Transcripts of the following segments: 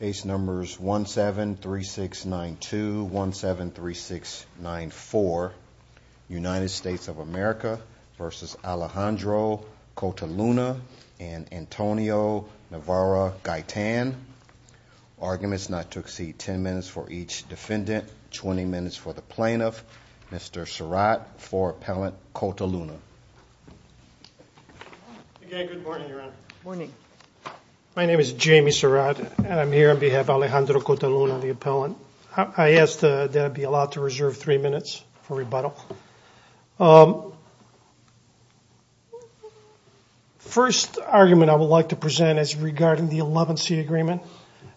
17-3692 USA v. Alejandro Cota-Luna and Antonio Navarro Gaytan Arguments not to exceed 10 minutes for each defendant, 20 minutes for the plaintiff, Mr. My name is Jamie Surratt, and I'm here on behalf of Alejandro Cota-Luna, the appellant. I ask that it be allowed to reserve three minutes for rebuttal. First argument I would like to present is regarding the 11-C agreement,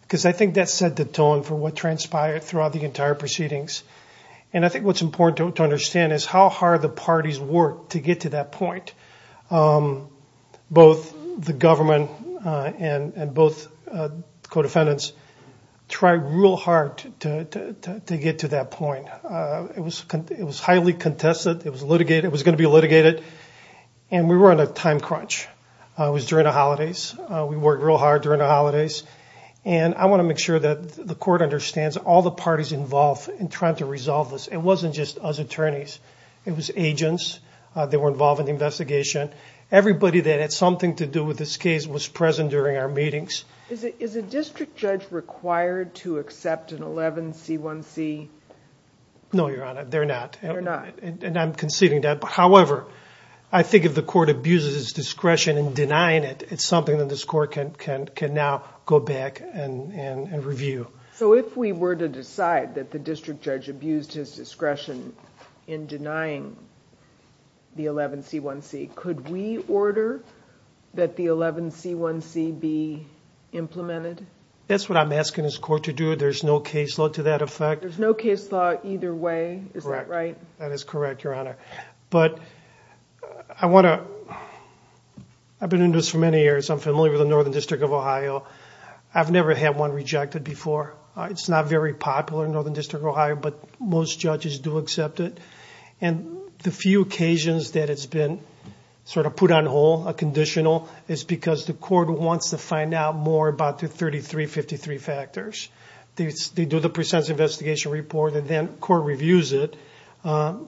because I think that set the tone for what transpired throughout the entire proceedings. And I think what's important to understand is how hard the parties worked to get to that point. Both the government and both co-defendants tried real hard to get to that point. It was highly contested. It was going to be litigated. And we were on a time crunch. It was during the holidays. We worked real hard during the holidays. And I want to make sure that the court understands all the parties involved in trying to resolve this. It wasn't just us attorneys. It was agents that were involved in the investigation. Everybody that had something to do with this case was present during our meetings. Is a district judge required to accept an 11-C1C? No, Your Honor, they're not. They're not. And I'm conceding that. However, I think if the court abuses its discretion in denying it, it's something that this court can now go back and review. So if we were to decide that the district judge abused his discretion in denying the 11-C1C, could we order that the 11-C1C be implemented? That's what I'm asking this court to do. There's no caseload to that effect. There's no caseload either way. Is that right? Correct. That is correct, Your Honor. But I've been in this for many years. I'm familiar with the Northern District of Ohio. I've never had one rejected before. It's not very popular in Northern District of Ohio, but most judges do accept it. And the few occasions that it's been sort of put on hold, a conditional, is because the court wants to find out more about the 33-53 factors. They do the pre-sentence investigation report, and then court reviews it,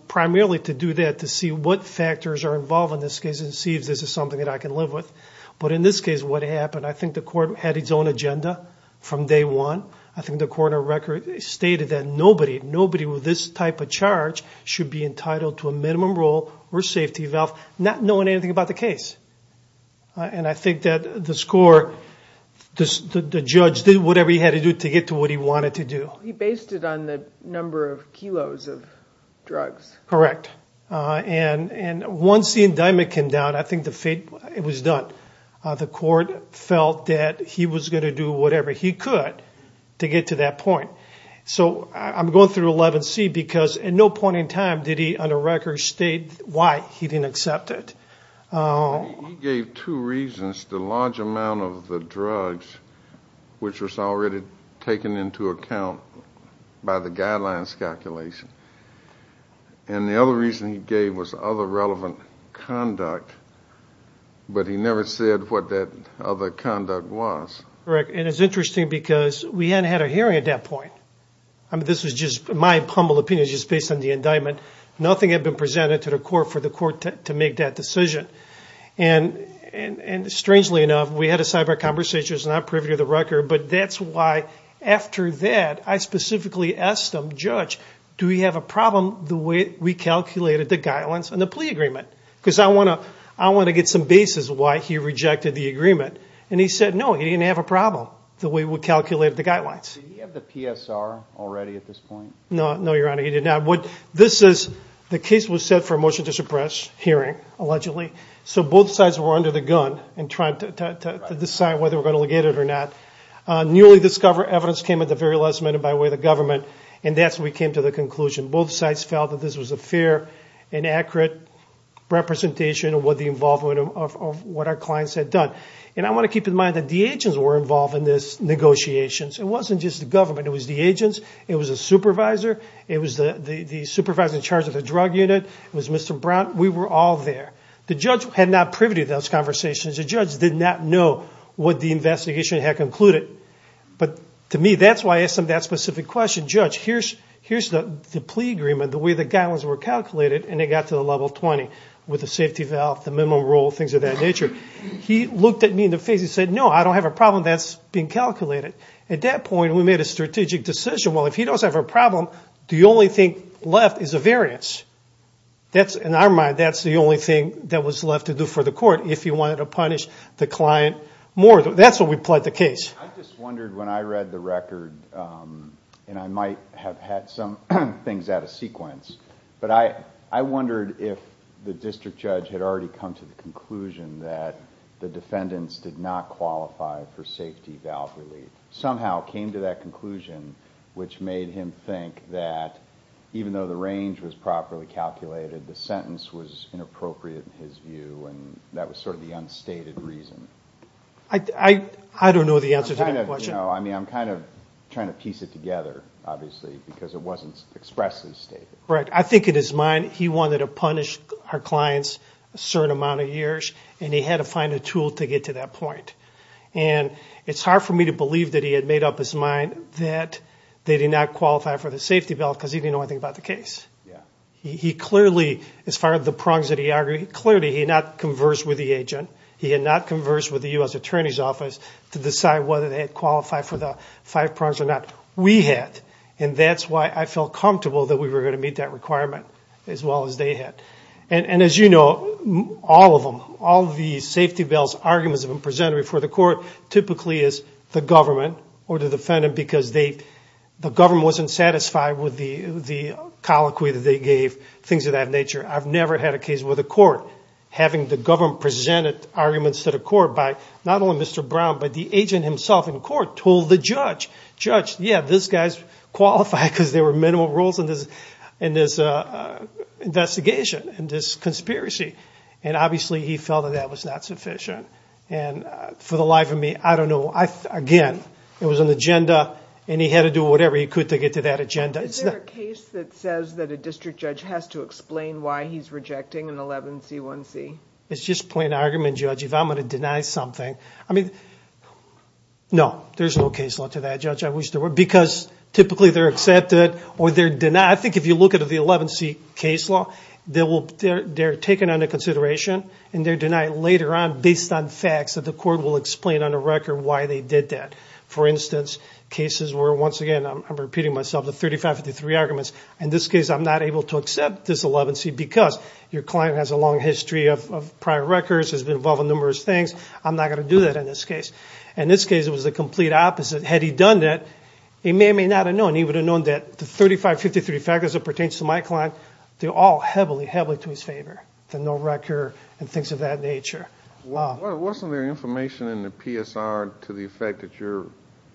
primarily to do that, to see what factors are involved in this case and see if this is something that I can live with. But in this case, what happened, I think the court had its own agenda from day one. I think the court of record stated that nobody with this type of charge should be entitled to a minimum rule or safety valve, not knowing anything about the case. And I think that the score, the judge did whatever he had to do to get to what he wanted to do. He based it on the number of kilos of drugs. Correct. And once the indictment came down, I think the fate was done. The court felt that he was going to do whatever he could to get to that point. So I'm going through 11C because at no point in time did he, under record, state why he didn't accept it. He gave two reasons, the large amount of the drugs, which was already taken into account by the guidelines calculation. And the other reason he gave was other relevant conduct. But he never said what that other conduct was. Correct. And it's interesting because we hadn't had a hearing at that point. This was just my humble opinion, just based on the indictment. Nothing had been presented to the court for the court to make that decision. And strangely enough, we had a sidebar conversation. I was not privy to the record. But that's why, after that, I specifically asked him, Judge, do we have a problem the way we calculated the guidelines and the plea agreement? Because I want to get some basis why he rejected the agreement. And he said no, he didn't have a problem the way we calculated the guidelines. Did he have the PSR already at this point? No, Your Honor, he did not. The case was set for a motion to suppress hearing, allegedly. So both sides were under the gun in trying to decide whether we're going to allegate it or not. Newly discovered evidence came at the very last minute by way of the government, and that's when we came to the conclusion. Both sides felt that this was a fair and accurate representation of what the involvement of what our clients had done. And I want to keep in mind that the agents were involved in this negotiations. It wasn't just the government. It was the agents. It was the supervisor. It was the supervisor in charge of the drug unit. It was Mr. Brown. We were all there. The judge had not privy to those conversations. The judge did not know what the investigation had concluded. But to me, that's why I asked him that specific question. Judge, here's the plea agreement, the way the guidelines were calculated, and it got to the level 20 with the safety valve, the minimum rule, things of that nature. He looked at me in the face and said, no, I don't have a problem that's being calculated. At that point, we made a strategic decision. Well, if he doesn't have a problem, the only thing left is a variance. In our mind, that's the only thing that was left to do for the court. If he wanted to punish the client more, that's what we pled the case. I just wondered when I read the record, and I might have had some things out of sequence, but I wondered if the district judge had already come to the conclusion that the defendants did not qualify for safety valve relief. Somehow came to that conclusion, which made him think that even though the range was properly calculated, the sentence was inappropriate in his view, and that was sort of the unstated reason. I don't know the answer to that question. I'm kind of trying to piece it together, obviously, because it wasn't expressly stated. I think in his mind, he wanted to punish our clients a certain amount of years, and he had to find a tool to get to that point. It's hard for me to believe that he had made up his mind that they did not qualify for the safety valve because he didn't know anything about the case. He clearly, as far as the prongs that he argued, clearly he had not conversed with the agent. He had not conversed with the U.S. Attorney's Office to decide whether they had qualified for the five prongs or not. We had, and that's why I felt comfortable that we were going to meet that requirement as well as they had. As you know, all of them, all of the safety valve arguments that were presented before the court typically is the government or the defendant because the government wasn't satisfied with the colloquy that they gave, things of that nature. I've never had a case where the court, having the government presented arguments to the court by not only Mr. Brown, yeah, this guy's qualified because there were minimal rules in this investigation, in this conspiracy, and obviously he felt that that was not sufficient. And for the life of me, I don't know. Again, it was an agenda, and he had to do whatever he could to get to that agenda. Is there a case that says that a district judge has to explain why he's rejecting an 11C1C? It's just plain argument, Judge. If I'm going to deny something, I mean, no, there's no case law to that, Judge. Because typically they're accepted or they're denied. I think if you look at the 11C case law, they're taken under consideration, and they're denied later on based on facts that the court will explain on a record why they did that. For instance, cases where, once again, I'm repeating myself, the 3553 arguments. In this case, I'm not able to accept this 11C because your client has a long history of prior records, has been involved in numerous things. I'm not going to do that in this case. In this case, it was the complete opposite. Had he done that, he may or may not have known. He would have known that the 3553 factors that pertain to my client, they're all heavily, heavily to his favor, the no record and things of that nature. Wasn't there information in the PSR to the effect that your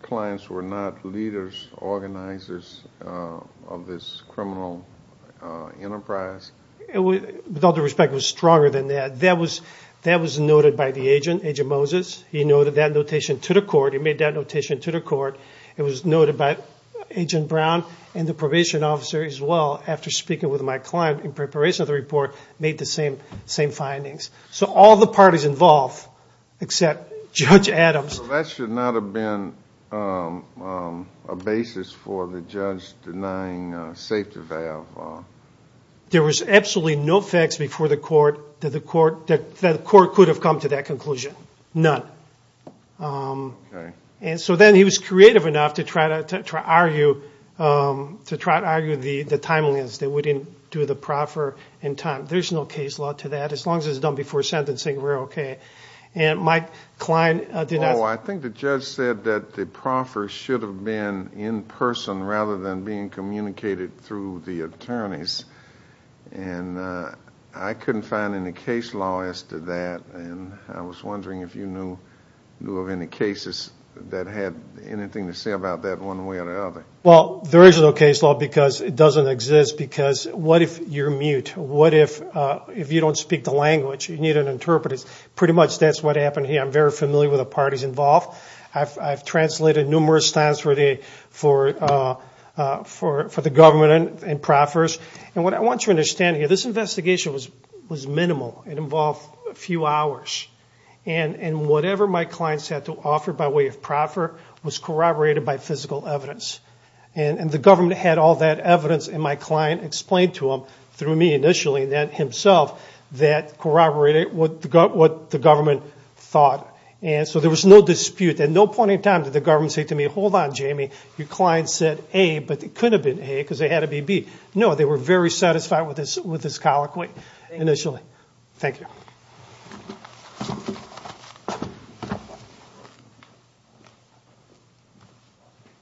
clients were not leaders, organizers of this criminal enterprise? With all due respect, it was stronger than that. That was noted by the agent, Agent Moses. He noted that notation to the court. He made that notation to the court. It was noted by Agent Brown and the probation officer as well, after speaking with my client in preparation of the report, made the same findings. So all the parties involved except Judge Adams. So that should not have been a basis for the judge denying safety valve law? There was absolutely no facts before the court that the court could have come to that conclusion, none. Okay. So then he was creative enough to try to argue the timeliness, that we didn't do the proffer in time. There's no case law to that. As long as it's done before sentencing, we're okay. And my client did not. Oh, I think the judge said that the proffer should have been in person rather than being communicated through the attorneys. And I couldn't find any case law as to that. And I was wondering if you knew of any cases that had anything to say about that one way or the other. Well, there is no case law because it doesn't exist. Because what if you're mute? What if you don't speak the language? You need an interpreter. Pretty much that's what happened here. I'm very familiar with the parties involved. I've translated numerous times for the government and proffers. And what I want you to understand here, this investigation was minimal. It involved a few hours. And whatever my clients had to offer by way of proffer was corroborated by physical evidence. And the government had all that evidence, and my client explained to them, through me initially and then himself, that corroborated what the government thought. And so there was no dispute. At no point in time did the government say to me, hold on, Jamie, your client said A, but it could have been A because they had to be B. No, they were very satisfied with this colloquy initially. Thank you.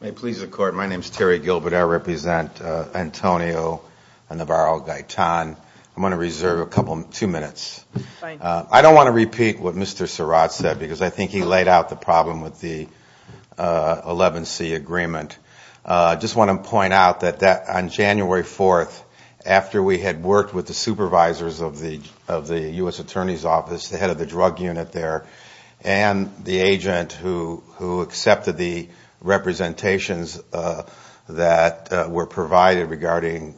May it please the Court, my name is Terry Gilbert. I represent Antonio and Navarro-Gaetan. I'm going to reserve two minutes. I don't want to repeat what Mr. Surratt said because I think he laid out the problem with the 11C agreement. I just want to point out that on January 4th, after we had worked with the supervisors of the U.S. Attorney's Office, the head of the drug unit there, and the agent who accepted the representations that were provided regarding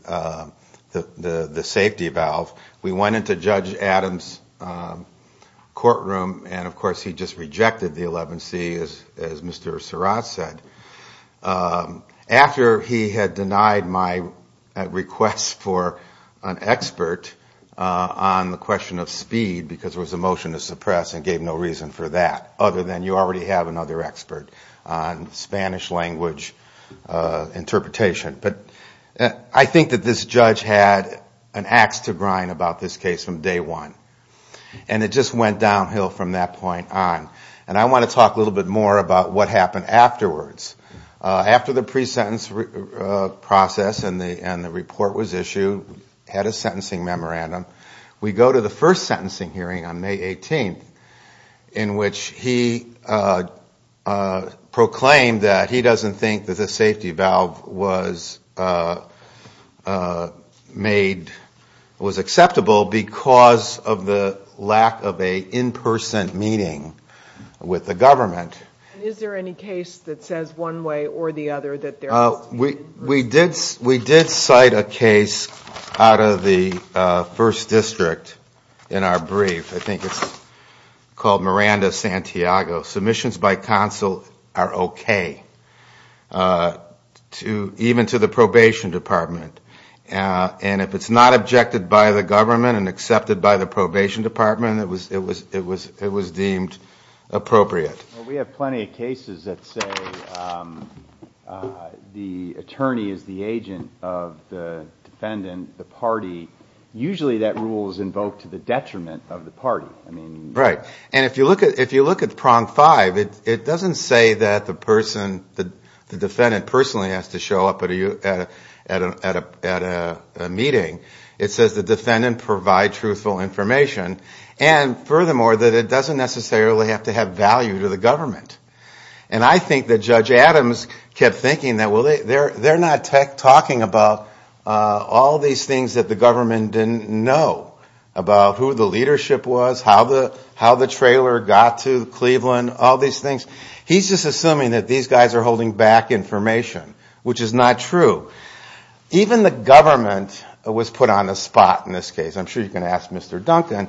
the safety valve, we went into Judge Adams' courtroom and, of course, he just rejected the 11C, as Mr. Surratt said. After he had denied my request for an expert on the question of speed, because there was a motion to suppress and gave no reason for that, other than you already have another expert on Spanish language interpretation. But I think that this judge had an ax to grind about this case from day one. And it just went downhill from that point on. And I want to talk a little bit more about what happened afterwards. After the pre-sentence process and the report was issued, had a sentencing memorandum, we go to the first sentencing hearing on May 18th, in which he proclaimed that he doesn't think that the safety valve was made, was acceptable because of the lack of an in-person meeting with the government. And is there any case that says one way or the other that there must be? We did cite a case out of the 1st District in our brief. I think it's called Miranda-Santiago. Submissions by counsel are okay, even to the probation department. And if it's not objected by the government and accepted by the probation department, it was deemed appropriate. We have plenty of cases that say the attorney is the agent of the defendant, the party. Usually that rule is invoked to the detriment of the party. And if you look at prong five, it doesn't say that the defendant personally has to show up at a meeting. It says the defendant provide truthful information. And furthermore, that it doesn't necessarily have to have value to the government. And I think that Judge Adams kept thinking that they're not talking about all these things that the government didn't know, about who the leadership was, how the trailer got to Cleveland, all these things. He's just assuming that these guys are holding back information, which is not true. Even the government was put on the spot in this case. I'm sure you can ask Mr. Duncan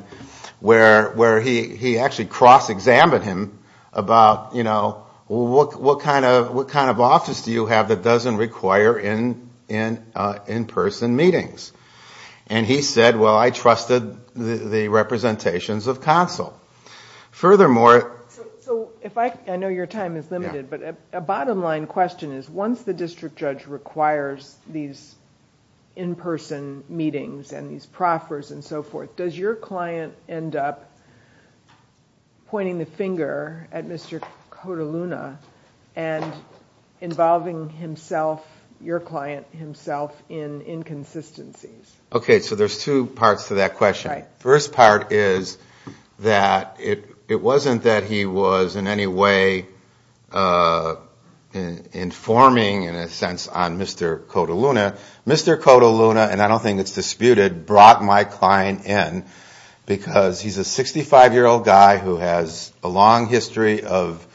where he actually cross-examined him about, you know, what kind of office do you have that doesn't require in-person meetings? And he said, well, I trusted the representations of counsel. Furthermore... So I know your time is limited, but a bottom line question is, once the district judge requires these in-person meetings and these proffers and so forth, does your client end up pointing the finger at Mr. Coteluna and involving himself, your client himself, in inconsistencies? Okay, so there's two parts to that question. First part is that it wasn't that he was in any way informing, in a sense, on Mr. Coteluna. Mr. Coteluna, and I don't think it's disputed, brought my client in because he's a 65-year-old guy who has a long history of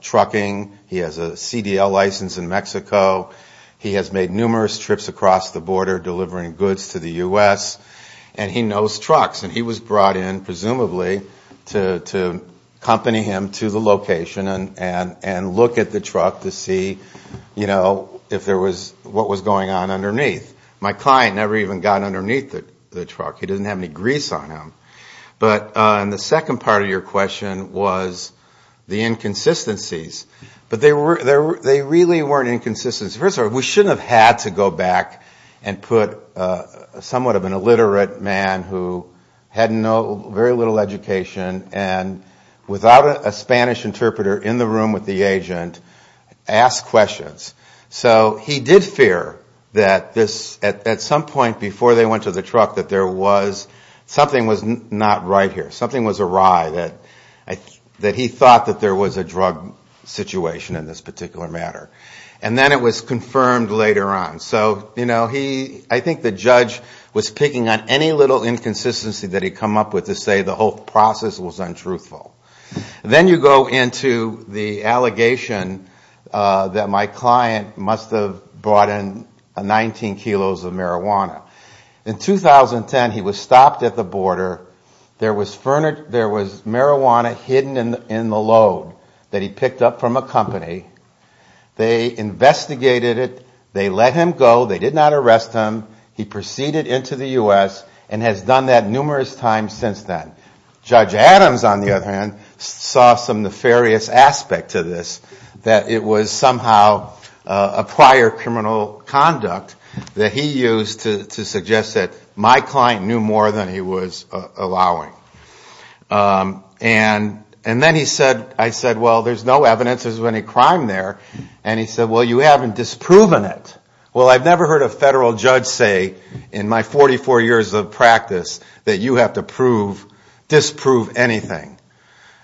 trucking. He has a CDL license in Mexico. He has made numerous trips across the border delivering goods to the U.S., and he knows trucks. And he was brought in, presumably, to accompany him to the location and look at the truck to see, you know, if there was, what was going on underneath. My client never even got underneath the truck. He didn't have any grease on him. And the second part of your question was the inconsistencies. But they really weren't inconsistencies. First of all, we shouldn't have had to go back and put somewhat of an illiterate man who had very little education, and without a Spanish interpreter in the room with the agent, ask questions. So he did fear that this, at some point before they went to the truck, that there was, something was not right here. Something was awry, that he thought that there was a drug situation in this particular matter. And then it was confirmed later on. So, you know, he, I think the judge was picking on any little inconsistency that he come up with to say the whole process was untruthful. Then you go into the allegation that my client must have brought in 19 kilos of marijuana. In 2010, he was stopped at the border. There was marijuana hidden in the load that he picked up from a company. They investigated it. They let him go. They did not arrest him. He proceeded into the U.S. and has done that numerous times since then. Judge Adams, on the other hand, saw some nefarious aspect to this, that it was somehow a prior criminal conduct that he used to suggest that my client knew more than he was allowing. And then he said, I said, well, there's no evidence of any crime there. And he said, well, you haven't disproven it. Well, I've never heard a federal judge say in my 44 years of practice that you have to prove, disprove anything.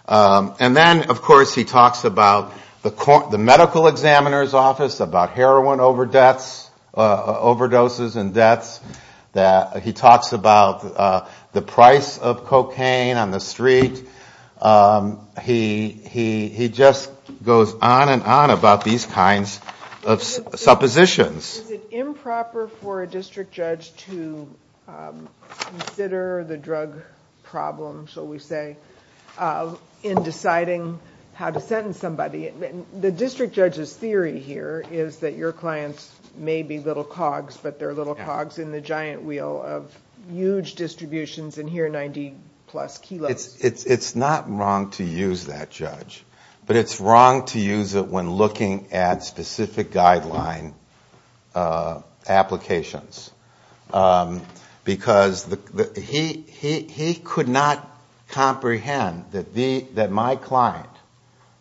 And then, of course, he talks about the medical examiner's office, about heroin overdoses and deaths. He talks about the price of cocaine on the street. He just goes on and on about these kinds of suppositions. Is it improper for a district judge to consider the drug problem, shall we say, in deciding how to sentence somebody? The district judge's theory here is that your clients may be little cogs, but they're little cogs in the end. They're in the giant wheel of huge distributions, and here are 90-plus kilos. It's not wrong to use that, Judge. But it's wrong to use it when looking at specific guideline applications. Because he could not comprehend that my client,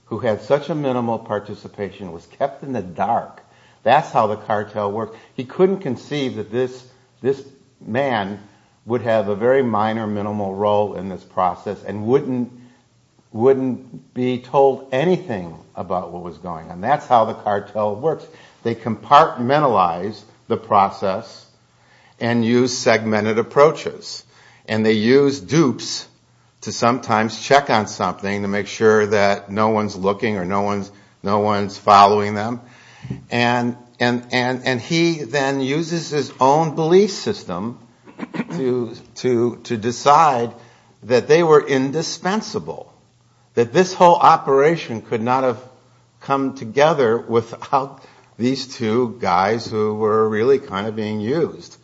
who had such a minimal participation, was kept in the dark. That's how the cartel worked. He couldn't conceive that this man would have a very minor, minimal role in this process and wouldn't be told anything about what was going on. That's how the cartel works. They compartmentalize the process and use segmented approaches. And they use dupes to sometimes check on something to make sure that no one's looking or no one's following them. And he then uses his own belief system to decide that they were indispensable, that this whole operation could not have come together without these two guys who were really kind of being used.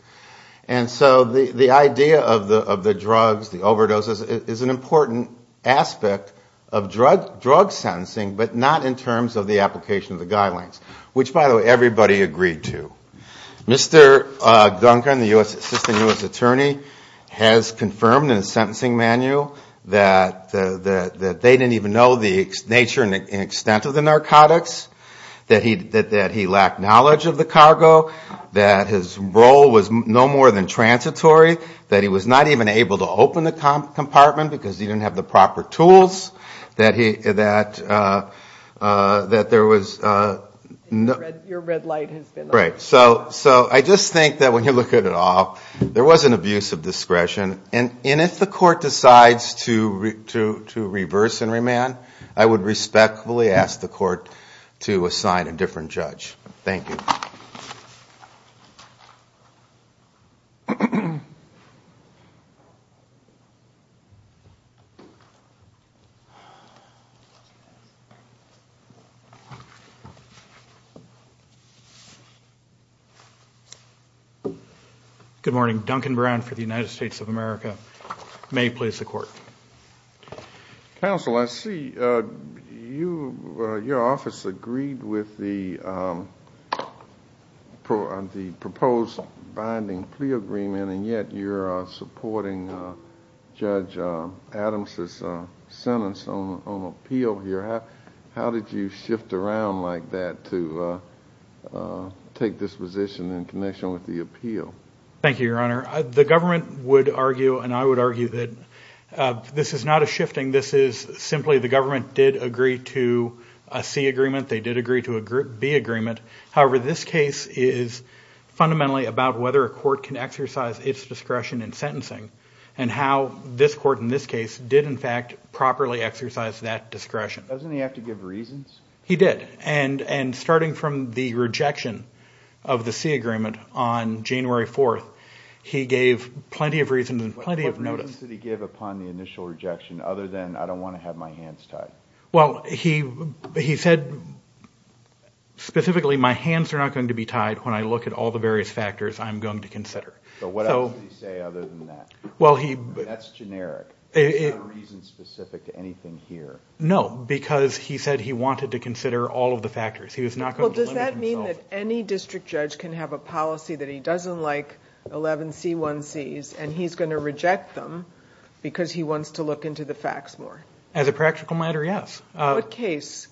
And so the idea of the drugs, the overdoses, is an important aspect of drug sentencing, but not in terms of the application of the guidelines. Which, by the way, everybody agreed to. Mr. Duncan, the Assistant U.S. Attorney, has confirmed in his sentencing manual that they didn't even know the nature and extent of the narcotics, that he lacked knowledge of the cargo, that his role was no more than transitory, that he was not even able to open the compartment because he didn't have the proper tools, that there was no... Your red light has been on. Right. So I just think that when you look at it all, there was an abuse of discretion. And if the court decides to reverse and remand, I would respectfully ask the court to assign a different judge. Thank you. Good morning. Duncan Brown for the United States of America. May I please have the court? Counsel, I see your office agreed with the proposed binding plea agreement, and yet you're supporting Judge Adams' sentence. On appeal here, how did you shift around like that to take this position in connection with the appeal? Thank you, Your Honor. The government would argue, and I would argue, that this is not a shifting, this is simply the government did agree to a C agreement, they did agree to a B agreement. However, this case is fundamentally about whether a court can exercise its discretion in sentencing, and how this court in this case did in fact properly exercise that discretion. Doesn't he have to give reasons? He did. And starting from the rejection of the C agreement on January 4th, he gave plenty of reasons and plenty of notice. What reasons did he give upon the initial rejection, other than I don't want to have my hands tied? Well, he said specifically, my hands are not going to be tied when I look at all the various factors I'm going to consider. But what else did he say other than that? That's generic. There's no reason specific to anything here. No, because he said he wanted to consider all of the factors. Does that mean that any district judge can have a policy that he doesn't like 11C1Cs, and he's going to reject them because he wants to look into the facts more? As a practical matter, yes. What case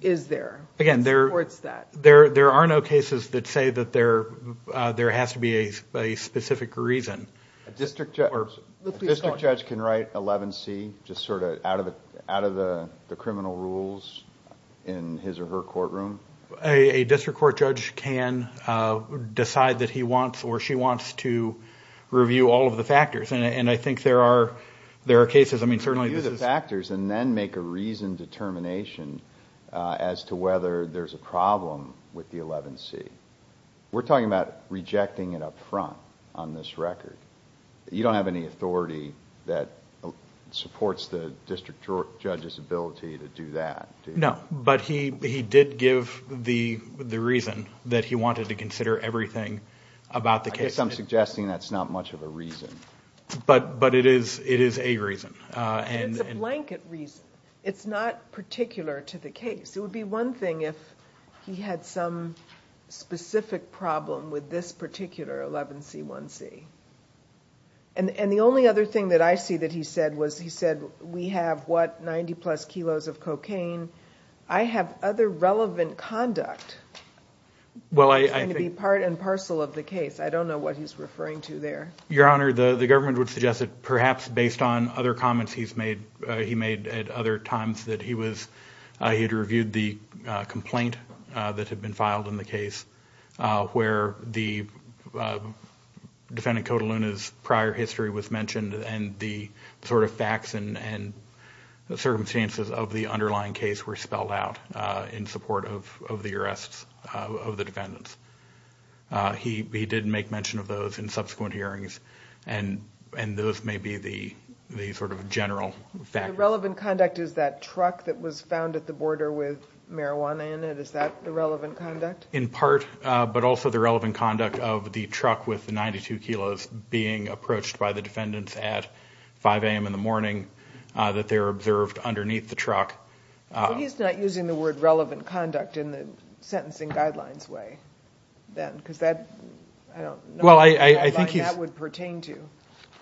is there that supports that? There are no cases that say that there has to be a specific reason. A district judge can write 11C just sort of out of the criminal rules in his or her courtroom? A district court judge can decide that he wants or she wants to review all of the factors. Review the factors and then make a reasoned determination as to whether there's a problem with the 11C. We're talking about rejecting it up front on this record. You don't have any authority that supports the district judge's ability to do that, do you? No, but he did give the reason that he wanted to consider everything about the case. I guess I'm suggesting that's not much of a reason. But it is a reason. It's a blanket reason. It's not particular to the case. It would be one thing if he had some specific problem with this particular 11C1C. And the only other thing that I see that he said was, he said, we have, what, 90 plus kilos of cocaine. I have other relevant conduct that's going to be part and parcel of the case. I don't know what he's referring to there. Your Honor, the government would suggest that perhaps based on other comments he's made, he made at other times, that he had reviewed the complaint that had been filed in the case, where the defendant, Cotaluna's prior history was mentioned, and the sort of facts and circumstances of the underlying case were spelled out in support of the arrests of the defendants. He did make mention of those in subsequent hearings, and those may be the sort of general facts. The relevant conduct is that truck that was found at the border with marijuana in it. Is that the relevant conduct? In part, but also the relevant conduct of the truck with the 92 kilos being approached by the defendants at 5 a.m. in the morning, that they were observed underneath the truck. But he's not using the word relevant conduct in the sentencing guidelines way then, because that, I don't know what guideline that would pertain to.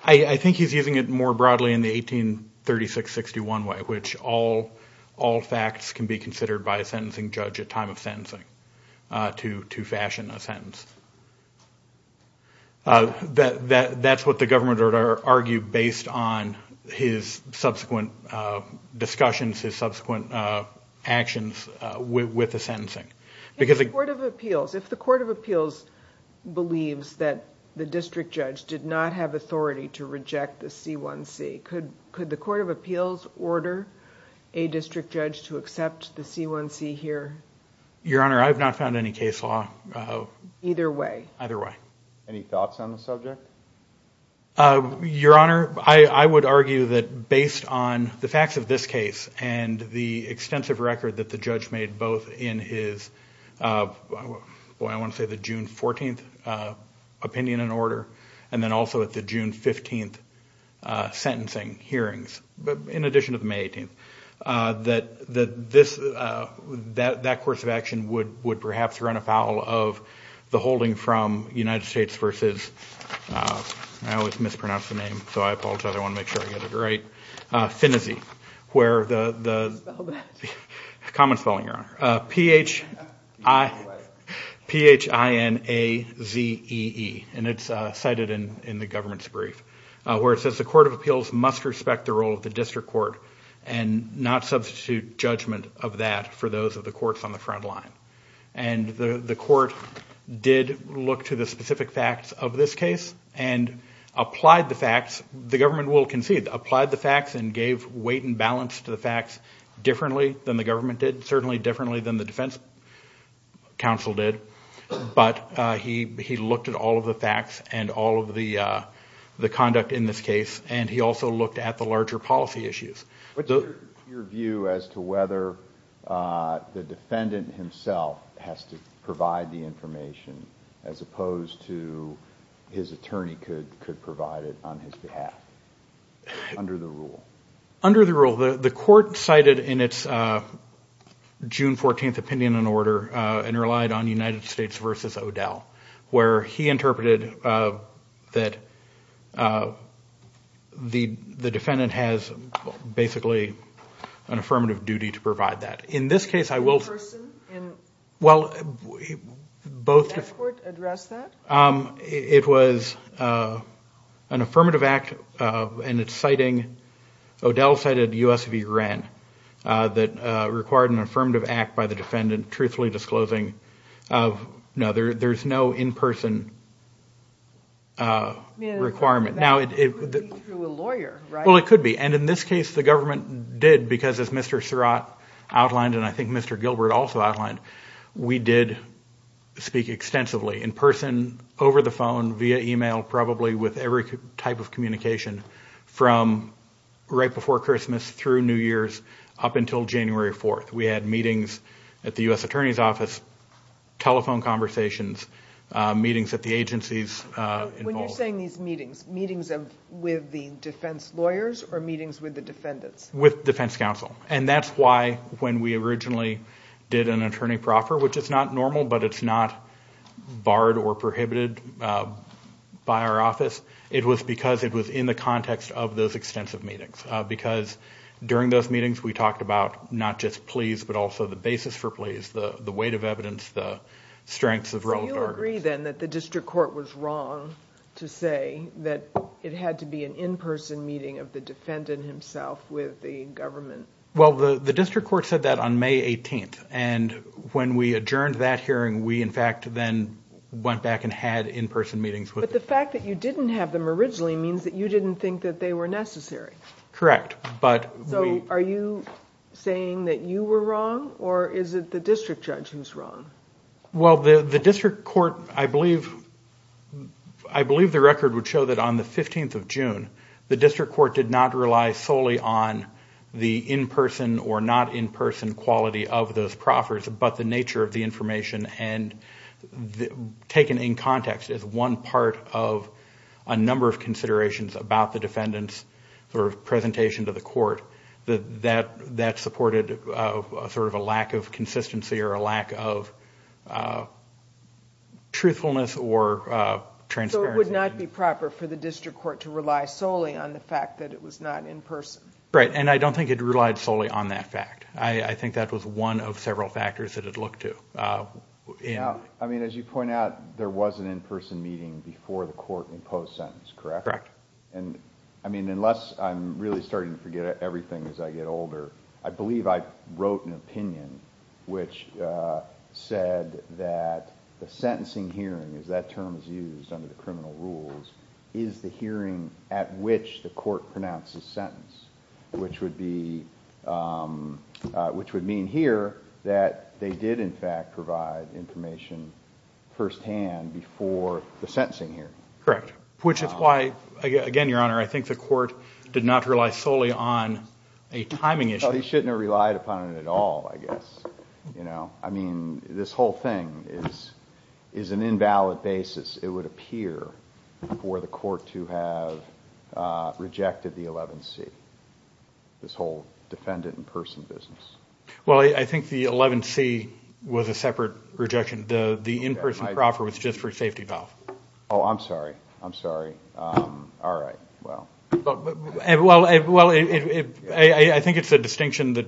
I think he's using it more broadly in the 1836-61 way, in which all facts can be considered by a sentencing judge at time of sentencing to fashion a sentence. That's what the government would argue based on his subsequent discussions, his subsequent actions with the sentencing. If the court of appeals believes that the district judge did not have authority to reject the C1C, could the court of appeals order a district judge to accept the C1C here? Your Honor, I have not found any case law. Either way. Any thoughts on the subject? Your Honor, I would argue that based on the facts of this case, and the extensive record that the judge made both in his, I want to say the June 14th opinion and order, and then also at the June 15th sentencing hearings, in addition to the May 18th, that that course of action would perhaps run afoul of the holding from United States versus, I always mispronounce the name, so I apologize, I want to make sure I get it right, Phineasy, where the, common spelling, Your Honor, P-H-I-N-A-Z-E-E, and it's cited in the government's brief, where it says the court of appeals must respect the role of the district court, and not substitute judgment of that for those of the courts on the front line. And the court did look to the specific facts of this case, and applied the facts, the government will concede, applied the facts, and gave weight and balance to the facts differently than the government did, certainly differently than the defense counsel did, but he looked at all of the facts and all of the conduct in this case, and he also looked at the larger policy issues. Your view as to whether the defendant himself has to provide the information, as opposed to his attorney could provide it on his behalf, under the rule? Under the rule, the court cited in its June 14th opinion and order, and relied on United States versus O'Dell, where he interpreted that, the defendant has basically an affirmative duty to provide that. In this case, I will... It was an affirmative act, and it's citing, O'Dell cited U.S. v. Wren, that required an affirmative act by the defendant, truthfully disclosing, there's no in-person requirement. It could be, and in this case, the government did, because as Mr. Surratt outlined, and I think Mr. Gilbert also outlined, we did speak extensively in person, over the phone, via email, probably with every type of communication, from right before Christmas through New Year's up until January 4th. We had meetings at the U.S. Attorney's Office, telephone conversations, meetings at the agencies involved. When you're saying these meetings, meetings with the defense lawyers, or meetings with the defendants? With defense counsel, and that's why, when we originally did an attorney proffer, which is not normal, but it's not barred or prohibited by our office, it was because it was in the context of those extensive meetings, because during those meetings we talked about not just pleas, but also the basis for pleas, the weight of evidence, the strengths of relevant arguments. So you agree then that the district court was wrong to say that it had to be an in-person meeting of the defendant himself with the government? Well, the district court said that on May 18th, and when we adjourned that hearing, we in fact then went back and had in-person meetings with the defendant. But the fact that you didn't have them originally means that you didn't think that they were necessary. Correct. So are you saying that you were wrong, or is it the district judge who's wrong? Well, the district court, I believe the record would show that on the 15th of June, the district court did not rely solely on the in-person or not in-person quality of those proffers, but the nature of the information, and taken in context as one part of a number of considerations about the defendant's presentation to the court that supported sort of a lack of consistency or a lack of truthfulness or transparency. So it would not be proper for the district court to rely solely on the fact that it was not in-person? Right, and I don't think it relied solely on that fact. I think that was one of several factors that it looked to. As you point out, there was an in-person meeting before the court imposed sentence, correct? Correct. And I mean, unless I'm really starting to forget everything as I get older, I believe I wrote an opinion which said that the sentencing hearing, as that term is used under the criminal rules, is the hearing at which the court pronounces sentence, which would mean here that they did in fact provide information firsthand before the sentencing hearing. Correct, which is why, again, Your Honor, I think the court did not rely solely on a timing issue. Well, he shouldn't have relied upon it at all, I guess. I mean, this whole thing is an invalid basis, it would appear, for the court to have rejected the 11C, this whole defendant in-person business. Well, I think the 11C was a separate rejection. The in-person proffer was just for safety valve. Oh, I'm sorry. I'm sorry. All right. Well, I think it's a distinction that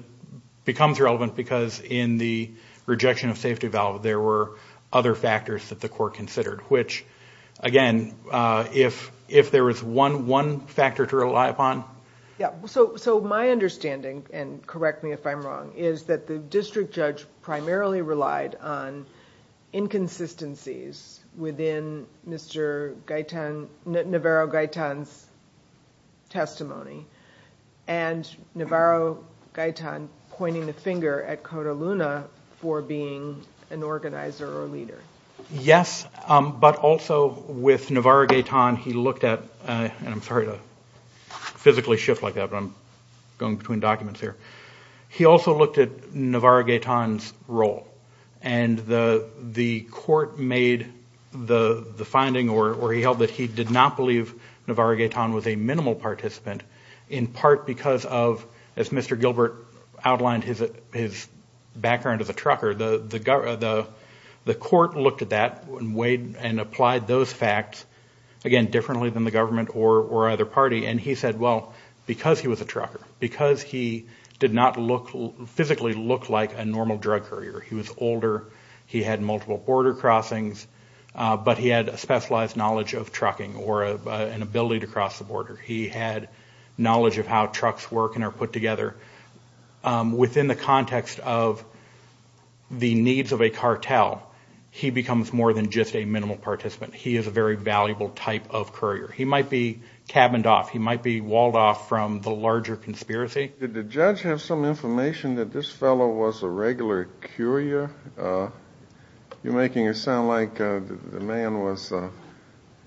becomes relevant because in the rejection of safety valve, there were other factors that the court considered, which, again, if there was one factor to rely upon... So my understanding, and correct me if I'm wrong, is that the district judge primarily relied on inconsistencies within Navarro-Gaetan's testimony, and Navarro-Gaetan pointing a finger at Cota Luna for being an organizer or leader. Yes, but also with Navarro-Gaetan, he looked at... And I'm sorry to physically shift like that, but I'm going between documents here. He also looked at Navarro-Gaetan's role, and the court made the finding, or he held that he did not believe Navarro-Gaetan was a minimal participant, in part because of, as Mr. Gilbert outlined his background as a trucker, the court looked at that and applied those facts, again, differently than the government or other party, and he said, well, because he was a trucker, because he did not physically look like a normal drug courier, he was older, he had multiple border crossings, but he had a specialized knowledge of trucking or an ability to cross the border. He had knowledge of how trucks work and are put together. Within the context of the needs of a cartel, he becomes more than just a minimal participant. He is a very valuable type of courier. Did the judge have some information that this fellow was a regular courier? You're making it sound like the man was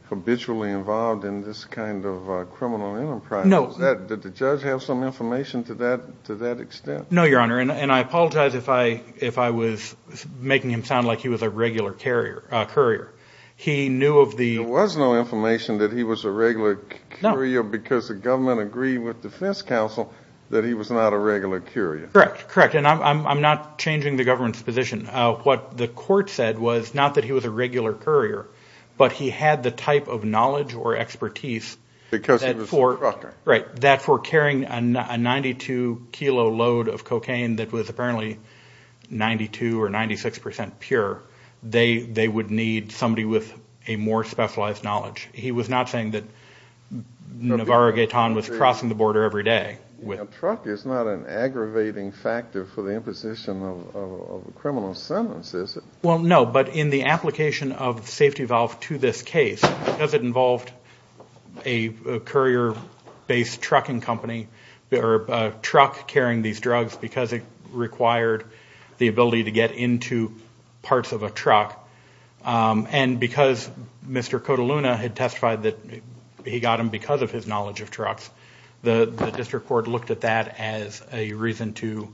habitually involved in this kind of criminal enterprise. Did the judge have some information to that extent? No, Your Honor, and I apologize if I was making him sound like he was a regular courier. There was no information that he was a regular courier, because the government agreed with defense counsel that he was not a regular courier. Correct, and I'm not changing the government's position. What the court said was not that he was a regular courier, but he had the type of knowledge or expertise that for carrying a 92-kilo load of cocaine that was apparently 92 or 96 percent pure, they would need somebody with a more specialized knowledge. He was not saying that Navarro Gaitan was crossing the border every day. A truck is not an aggravating factor for the imposition of a criminal sentence, is it? Well, no, but in the application of safety valve to this case, because it involved a courier-based trucking company, or a truck carrying these drugs, because it required the ability to get into parts of a truck, and because Mr. Cotaluna had testified that he got them because of his knowledge of trucks, the district court looked at that as a reason to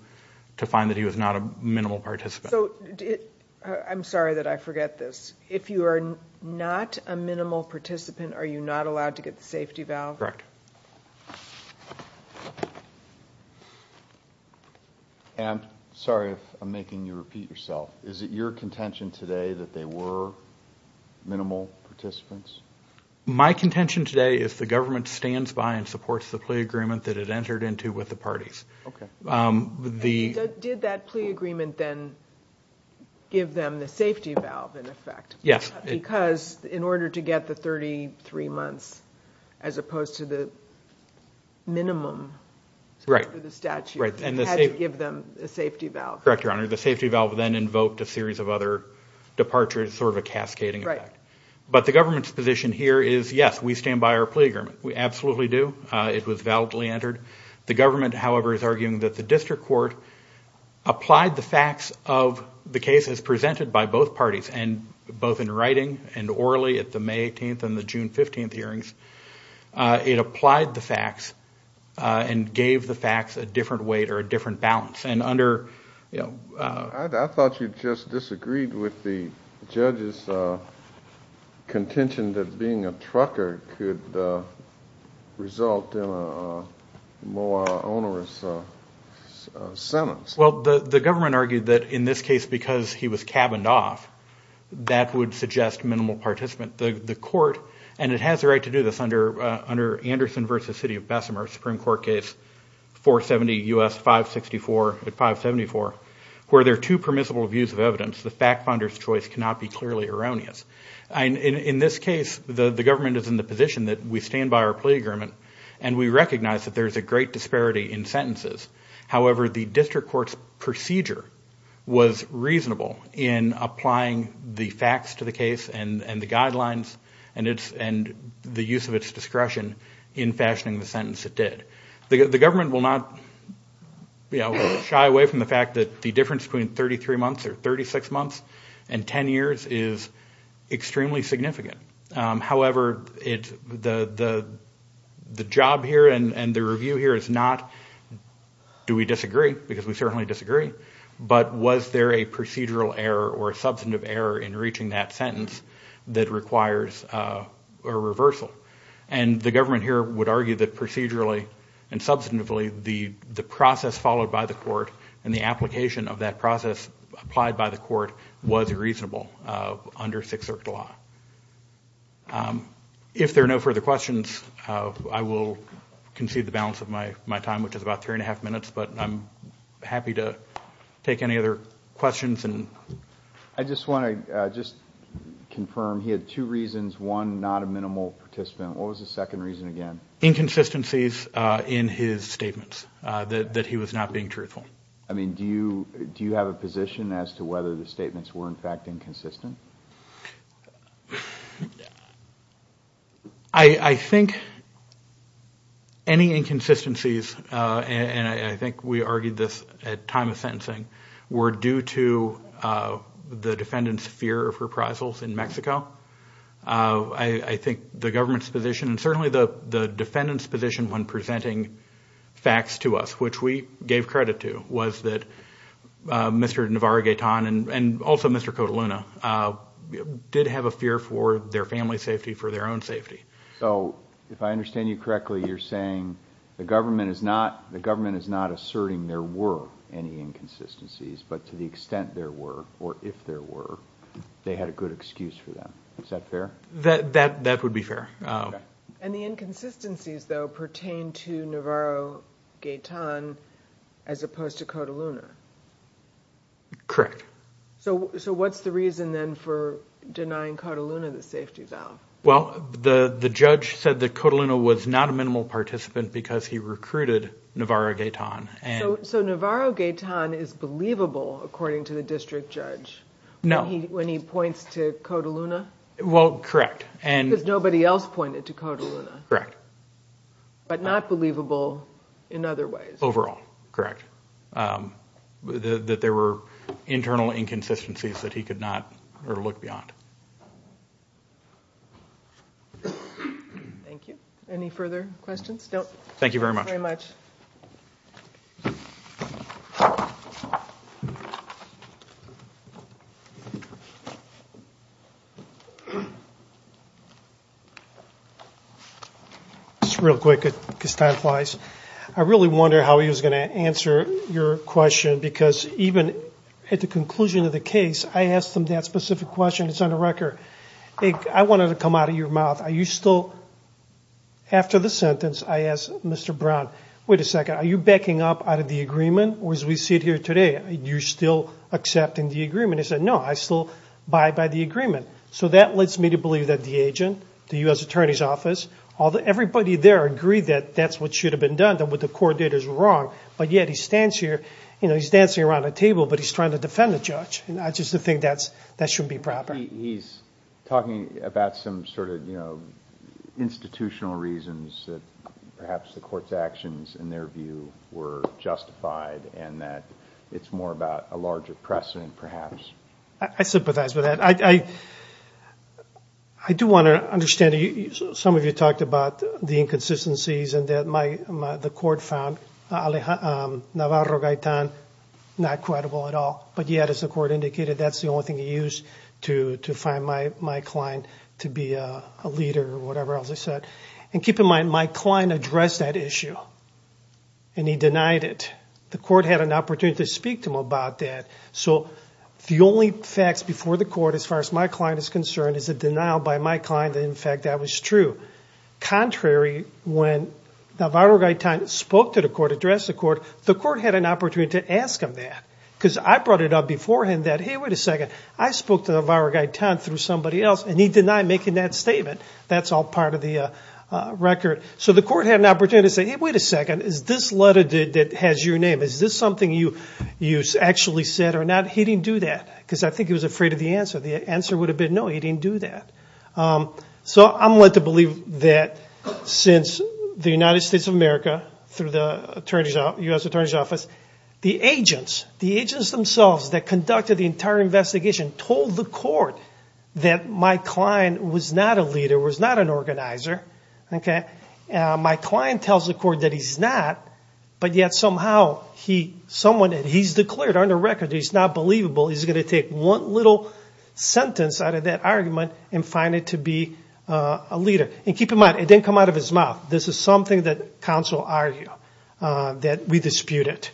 find that he was not a minimal participant. I'm sorry that I forget this. If you are not a minimal participant, are you not allowed to get the safety valve? Correct. I'm sorry if I'm making you repeat yourself. Is it your contention today that they were minimal participants? My contention today is the government stands by and supports the plea agreement that it entered into with the parties. Did that plea agreement then give them the safety valve, in effect? Yes. Correct, Your Honor. The safety valve then invoked a series of other departures, sort of a cascading effect. But the government's position here is, yes, we stand by our plea agreement. We absolutely do. It was validly entered. The government, however, is arguing that the district court applied the facts of the case as presented by both parties, both in writing and orally at the May 18th and the June 15th hearings. It applied the facts and gave the facts a different weight or a different balance. I thought you just disagreed with the judge's contention that being a trucker could result in a penalty. Well, the government argued that in this case, because he was cabined off, that would suggest minimal participant. The court, and it has the right to do this under Anderson v. City of Bessemer, Supreme Court case 470 U.S. 564 at 574, where there are two permissible views of evidence, the fact finder's choice cannot be clearly erroneous. In this case, the government is in the position that we stand by our plea agreement, and we recognize that there is a greater great disparity in sentences. However, the district court's procedure was reasonable in applying the facts to the case and the guidelines and the use of its discretion in fashioning the sentence it did. The government will not shy away from the fact that the difference between 33 months or 36 months and 10 years is extremely significant. However, the job here and the review here is not do we disagree, because we certainly disagree, but was there a procedural error or substantive error in reaching that sentence that requires a reversal. And the government here would argue that procedurally and substantively, the process followed by the court and the application of that process applied by the court was reasonable under Sixth Circuit law. If there are no further questions, I will concede the balance of my time, which is about three and a half minutes, but I'm happy to take any other questions. I just want to just confirm, he had two reasons, one, not a minimal participant. What was the second reason again? Inconsistencies in his statements, that he was not being truthful. I mean, do you have a position as to whether the statements were in fact inconsistent? I think any inconsistencies, and I think we argued this at time of sentencing, were due to the defendant's fear of reprisals in Mexico. I think the government's position, and certainly the defendant's position when presenting facts to us, which we gave credit to, was that Mr. Navarro-Gayton and also Mr. Cotaluna, did have a fear for their family's safety, for their own safety. So, if I understand you correctly, you're saying the government is not asserting there were any inconsistencies, but to the extent there were, or if there were, they had a good excuse for them. Is that fair? That would be fair. And the inconsistencies, though, pertain to Navarro-Gayton as opposed to Cotaluna. Correct. So what's the reason, then, for denying Cotaluna the safety valve? Well, the judge said that Cotaluna was not a minimal participant because he recruited Navarro-Gayton. So Navarro-Gayton is believable, according to the district judge, when he points to Cotaluna? Well, correct. Because nobody else pointed to Cotaluna, but not believable in other ways. Overall, correct. That there were internal inconsistencies that he could not look beyond. Thank you. Any further questions? Just real quick, because time flies. I really wonder how he was going to answer your question, because even at the conclusion of the case, I asked him that specific question. It's on the record. I want it to come out of your mouth. Are you still, after the sentence, I asked Mr. Brown, wait a second, are you backing up out of the agreement? Or as we see it here today, are you still accepting the agreement? He said, no, I still buy by the agreement. So that leads me to believe that the agent, the U.S. Attorney's Office, everybody there agreed that that's what should have been done, that what the court did was wrong. But yet he stands here, he's dancing around the table, but he's trying to defend the judge. I just think that shouldn't be proper. He's talking about some sort of institutional reasons that perhaps the court's actions, in their view, were justified, and that it's more about a larger precedent, perhaps. I sympathize with that. I do want to understand, some of you talked about the inconsistencies, and that the court found Navarro-Gaetan not credible at all. But yet, as the court indicated, that's the only thing he used to find Mike Klein to be a leader, or whatever else he said. And keep in mind, Mike Klein addressed that issue, and he denied it. The court had an opportunity to speak to him about that. So the only facts before the court, as far as Mike Klein is concerned, is a denial by Mike Klein that, in fact, that was true. Contrary, when Navarro-Gaetan spoke to the court, addressed the court, the court had an opportunity to ask him that. Because I brought it up beforehand that, hey, wait a second, I spoke to Navarro-Gaetan through somebody else, and he denied making that statement. That's all part of the record. So the court had an opportunity to say, hey, wait a second, is this letter that has your name, is this something you actually said or not? He didn't do that, because I think he was afraid of the answer. The answer would have been, no, he didn't do that. So I'm led to believe that since the United States of America, through the U.S. Attorney's Office, the agents, the agents themselves that conducted the entire investigation, told the court that Mike Klein was not a leader. There was not an organizer. My client tells the court that he's not, but yet somehow he, someone that he's declared under record, he's not believable, he's going to take one little sentence out of that argument and find it to be a leader. And keep in mind, it didn't come out of his mouth. This is something that counsel argue, that we dispute it.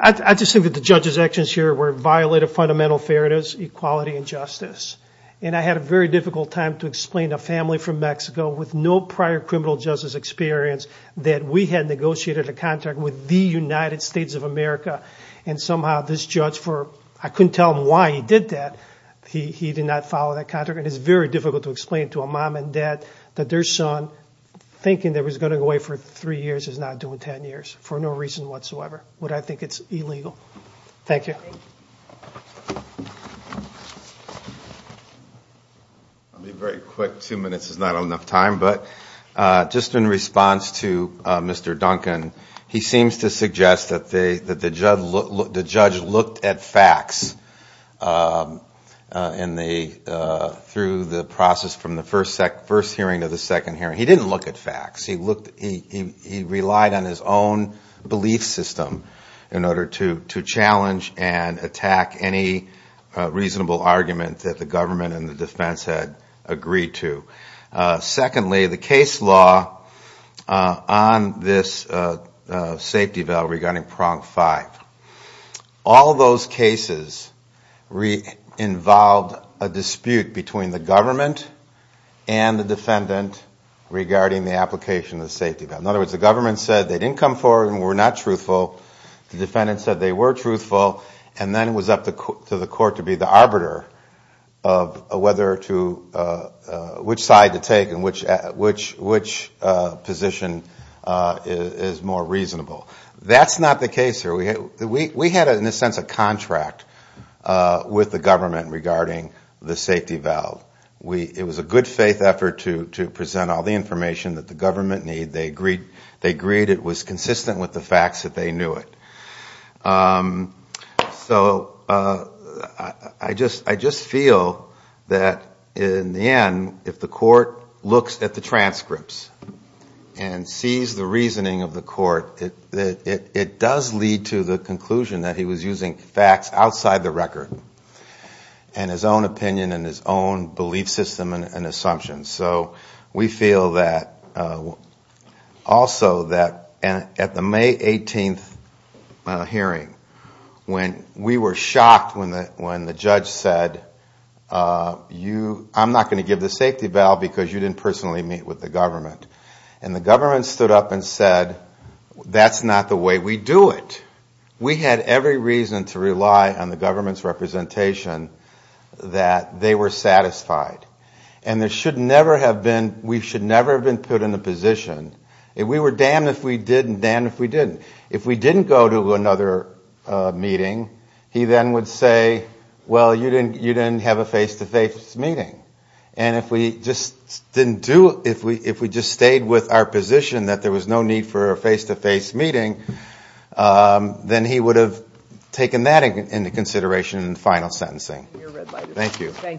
I just think that the judge's actions here were a violation of fundamental fairness, equality, and justice. And I had a very difficult time to explain to a family from Mexico, with no prior criminal justice experience, that we had negotiated a contract with the United States of America. And somehow this judge, I couldn't tell him why he did that, he did not follow that contract. And it's very difficult to explain to a mom and dad that their son, thinking that he was going to go away for three years, is now doing ten years, for no reason whatsoever. But I think it's illegal. I'll be very quick. Two minutes is not enough time. But just in response to Mr. Duncan, he seems to suggest that the judge looked at facts in the, through the process from the first hearing to the second hearing. He didn't look at facts. He relied on his own belief system in order to challenge and attack any reasonable argument that the government was making. That the government and the defense had agreed to. Secondly, the case law on this safety valve regarding prong five, all those cases involved a dispute between the government and the defendant regarding the application of the safety valve. In other words, the government said they didn't come forward and were not truthful. The defendant said they were truthful, and then it was up to the court to be the arbiter of whether to, which side to take and which position is more reasonable. That's not the case here. We had, in a sense, a contract with the government regarding the safety valve. It was a good faith effort to present all the information that the government needed. We knew it. So I just feel that in the end, if the court looks at the transcripts and sees the reasoning of the court, it does lead to the conclusion that he was using facts outside the record. And his own opinion and his own belief system and assumptions. So we feel that also that at the May 18th hearing, when we were shocked when the judge said, I'm not going to give the safety valve because you didn't personally meet with the government. And the government stood up and said, that's not the way we do it. We had every reason to rely on the government's representation that they were satisfied. And there should never have been, we should never have been put in a position, we were damned if we didn't, damned if we didn't. If we didn't go to another meeting, he then would say, well, you didn't have a face-to-face meeting. And if we just didn't do, if we just stayed with our position that there was no need for a face-to-face meeting, then he would have taken that into consideration in final sentencing. Thank you.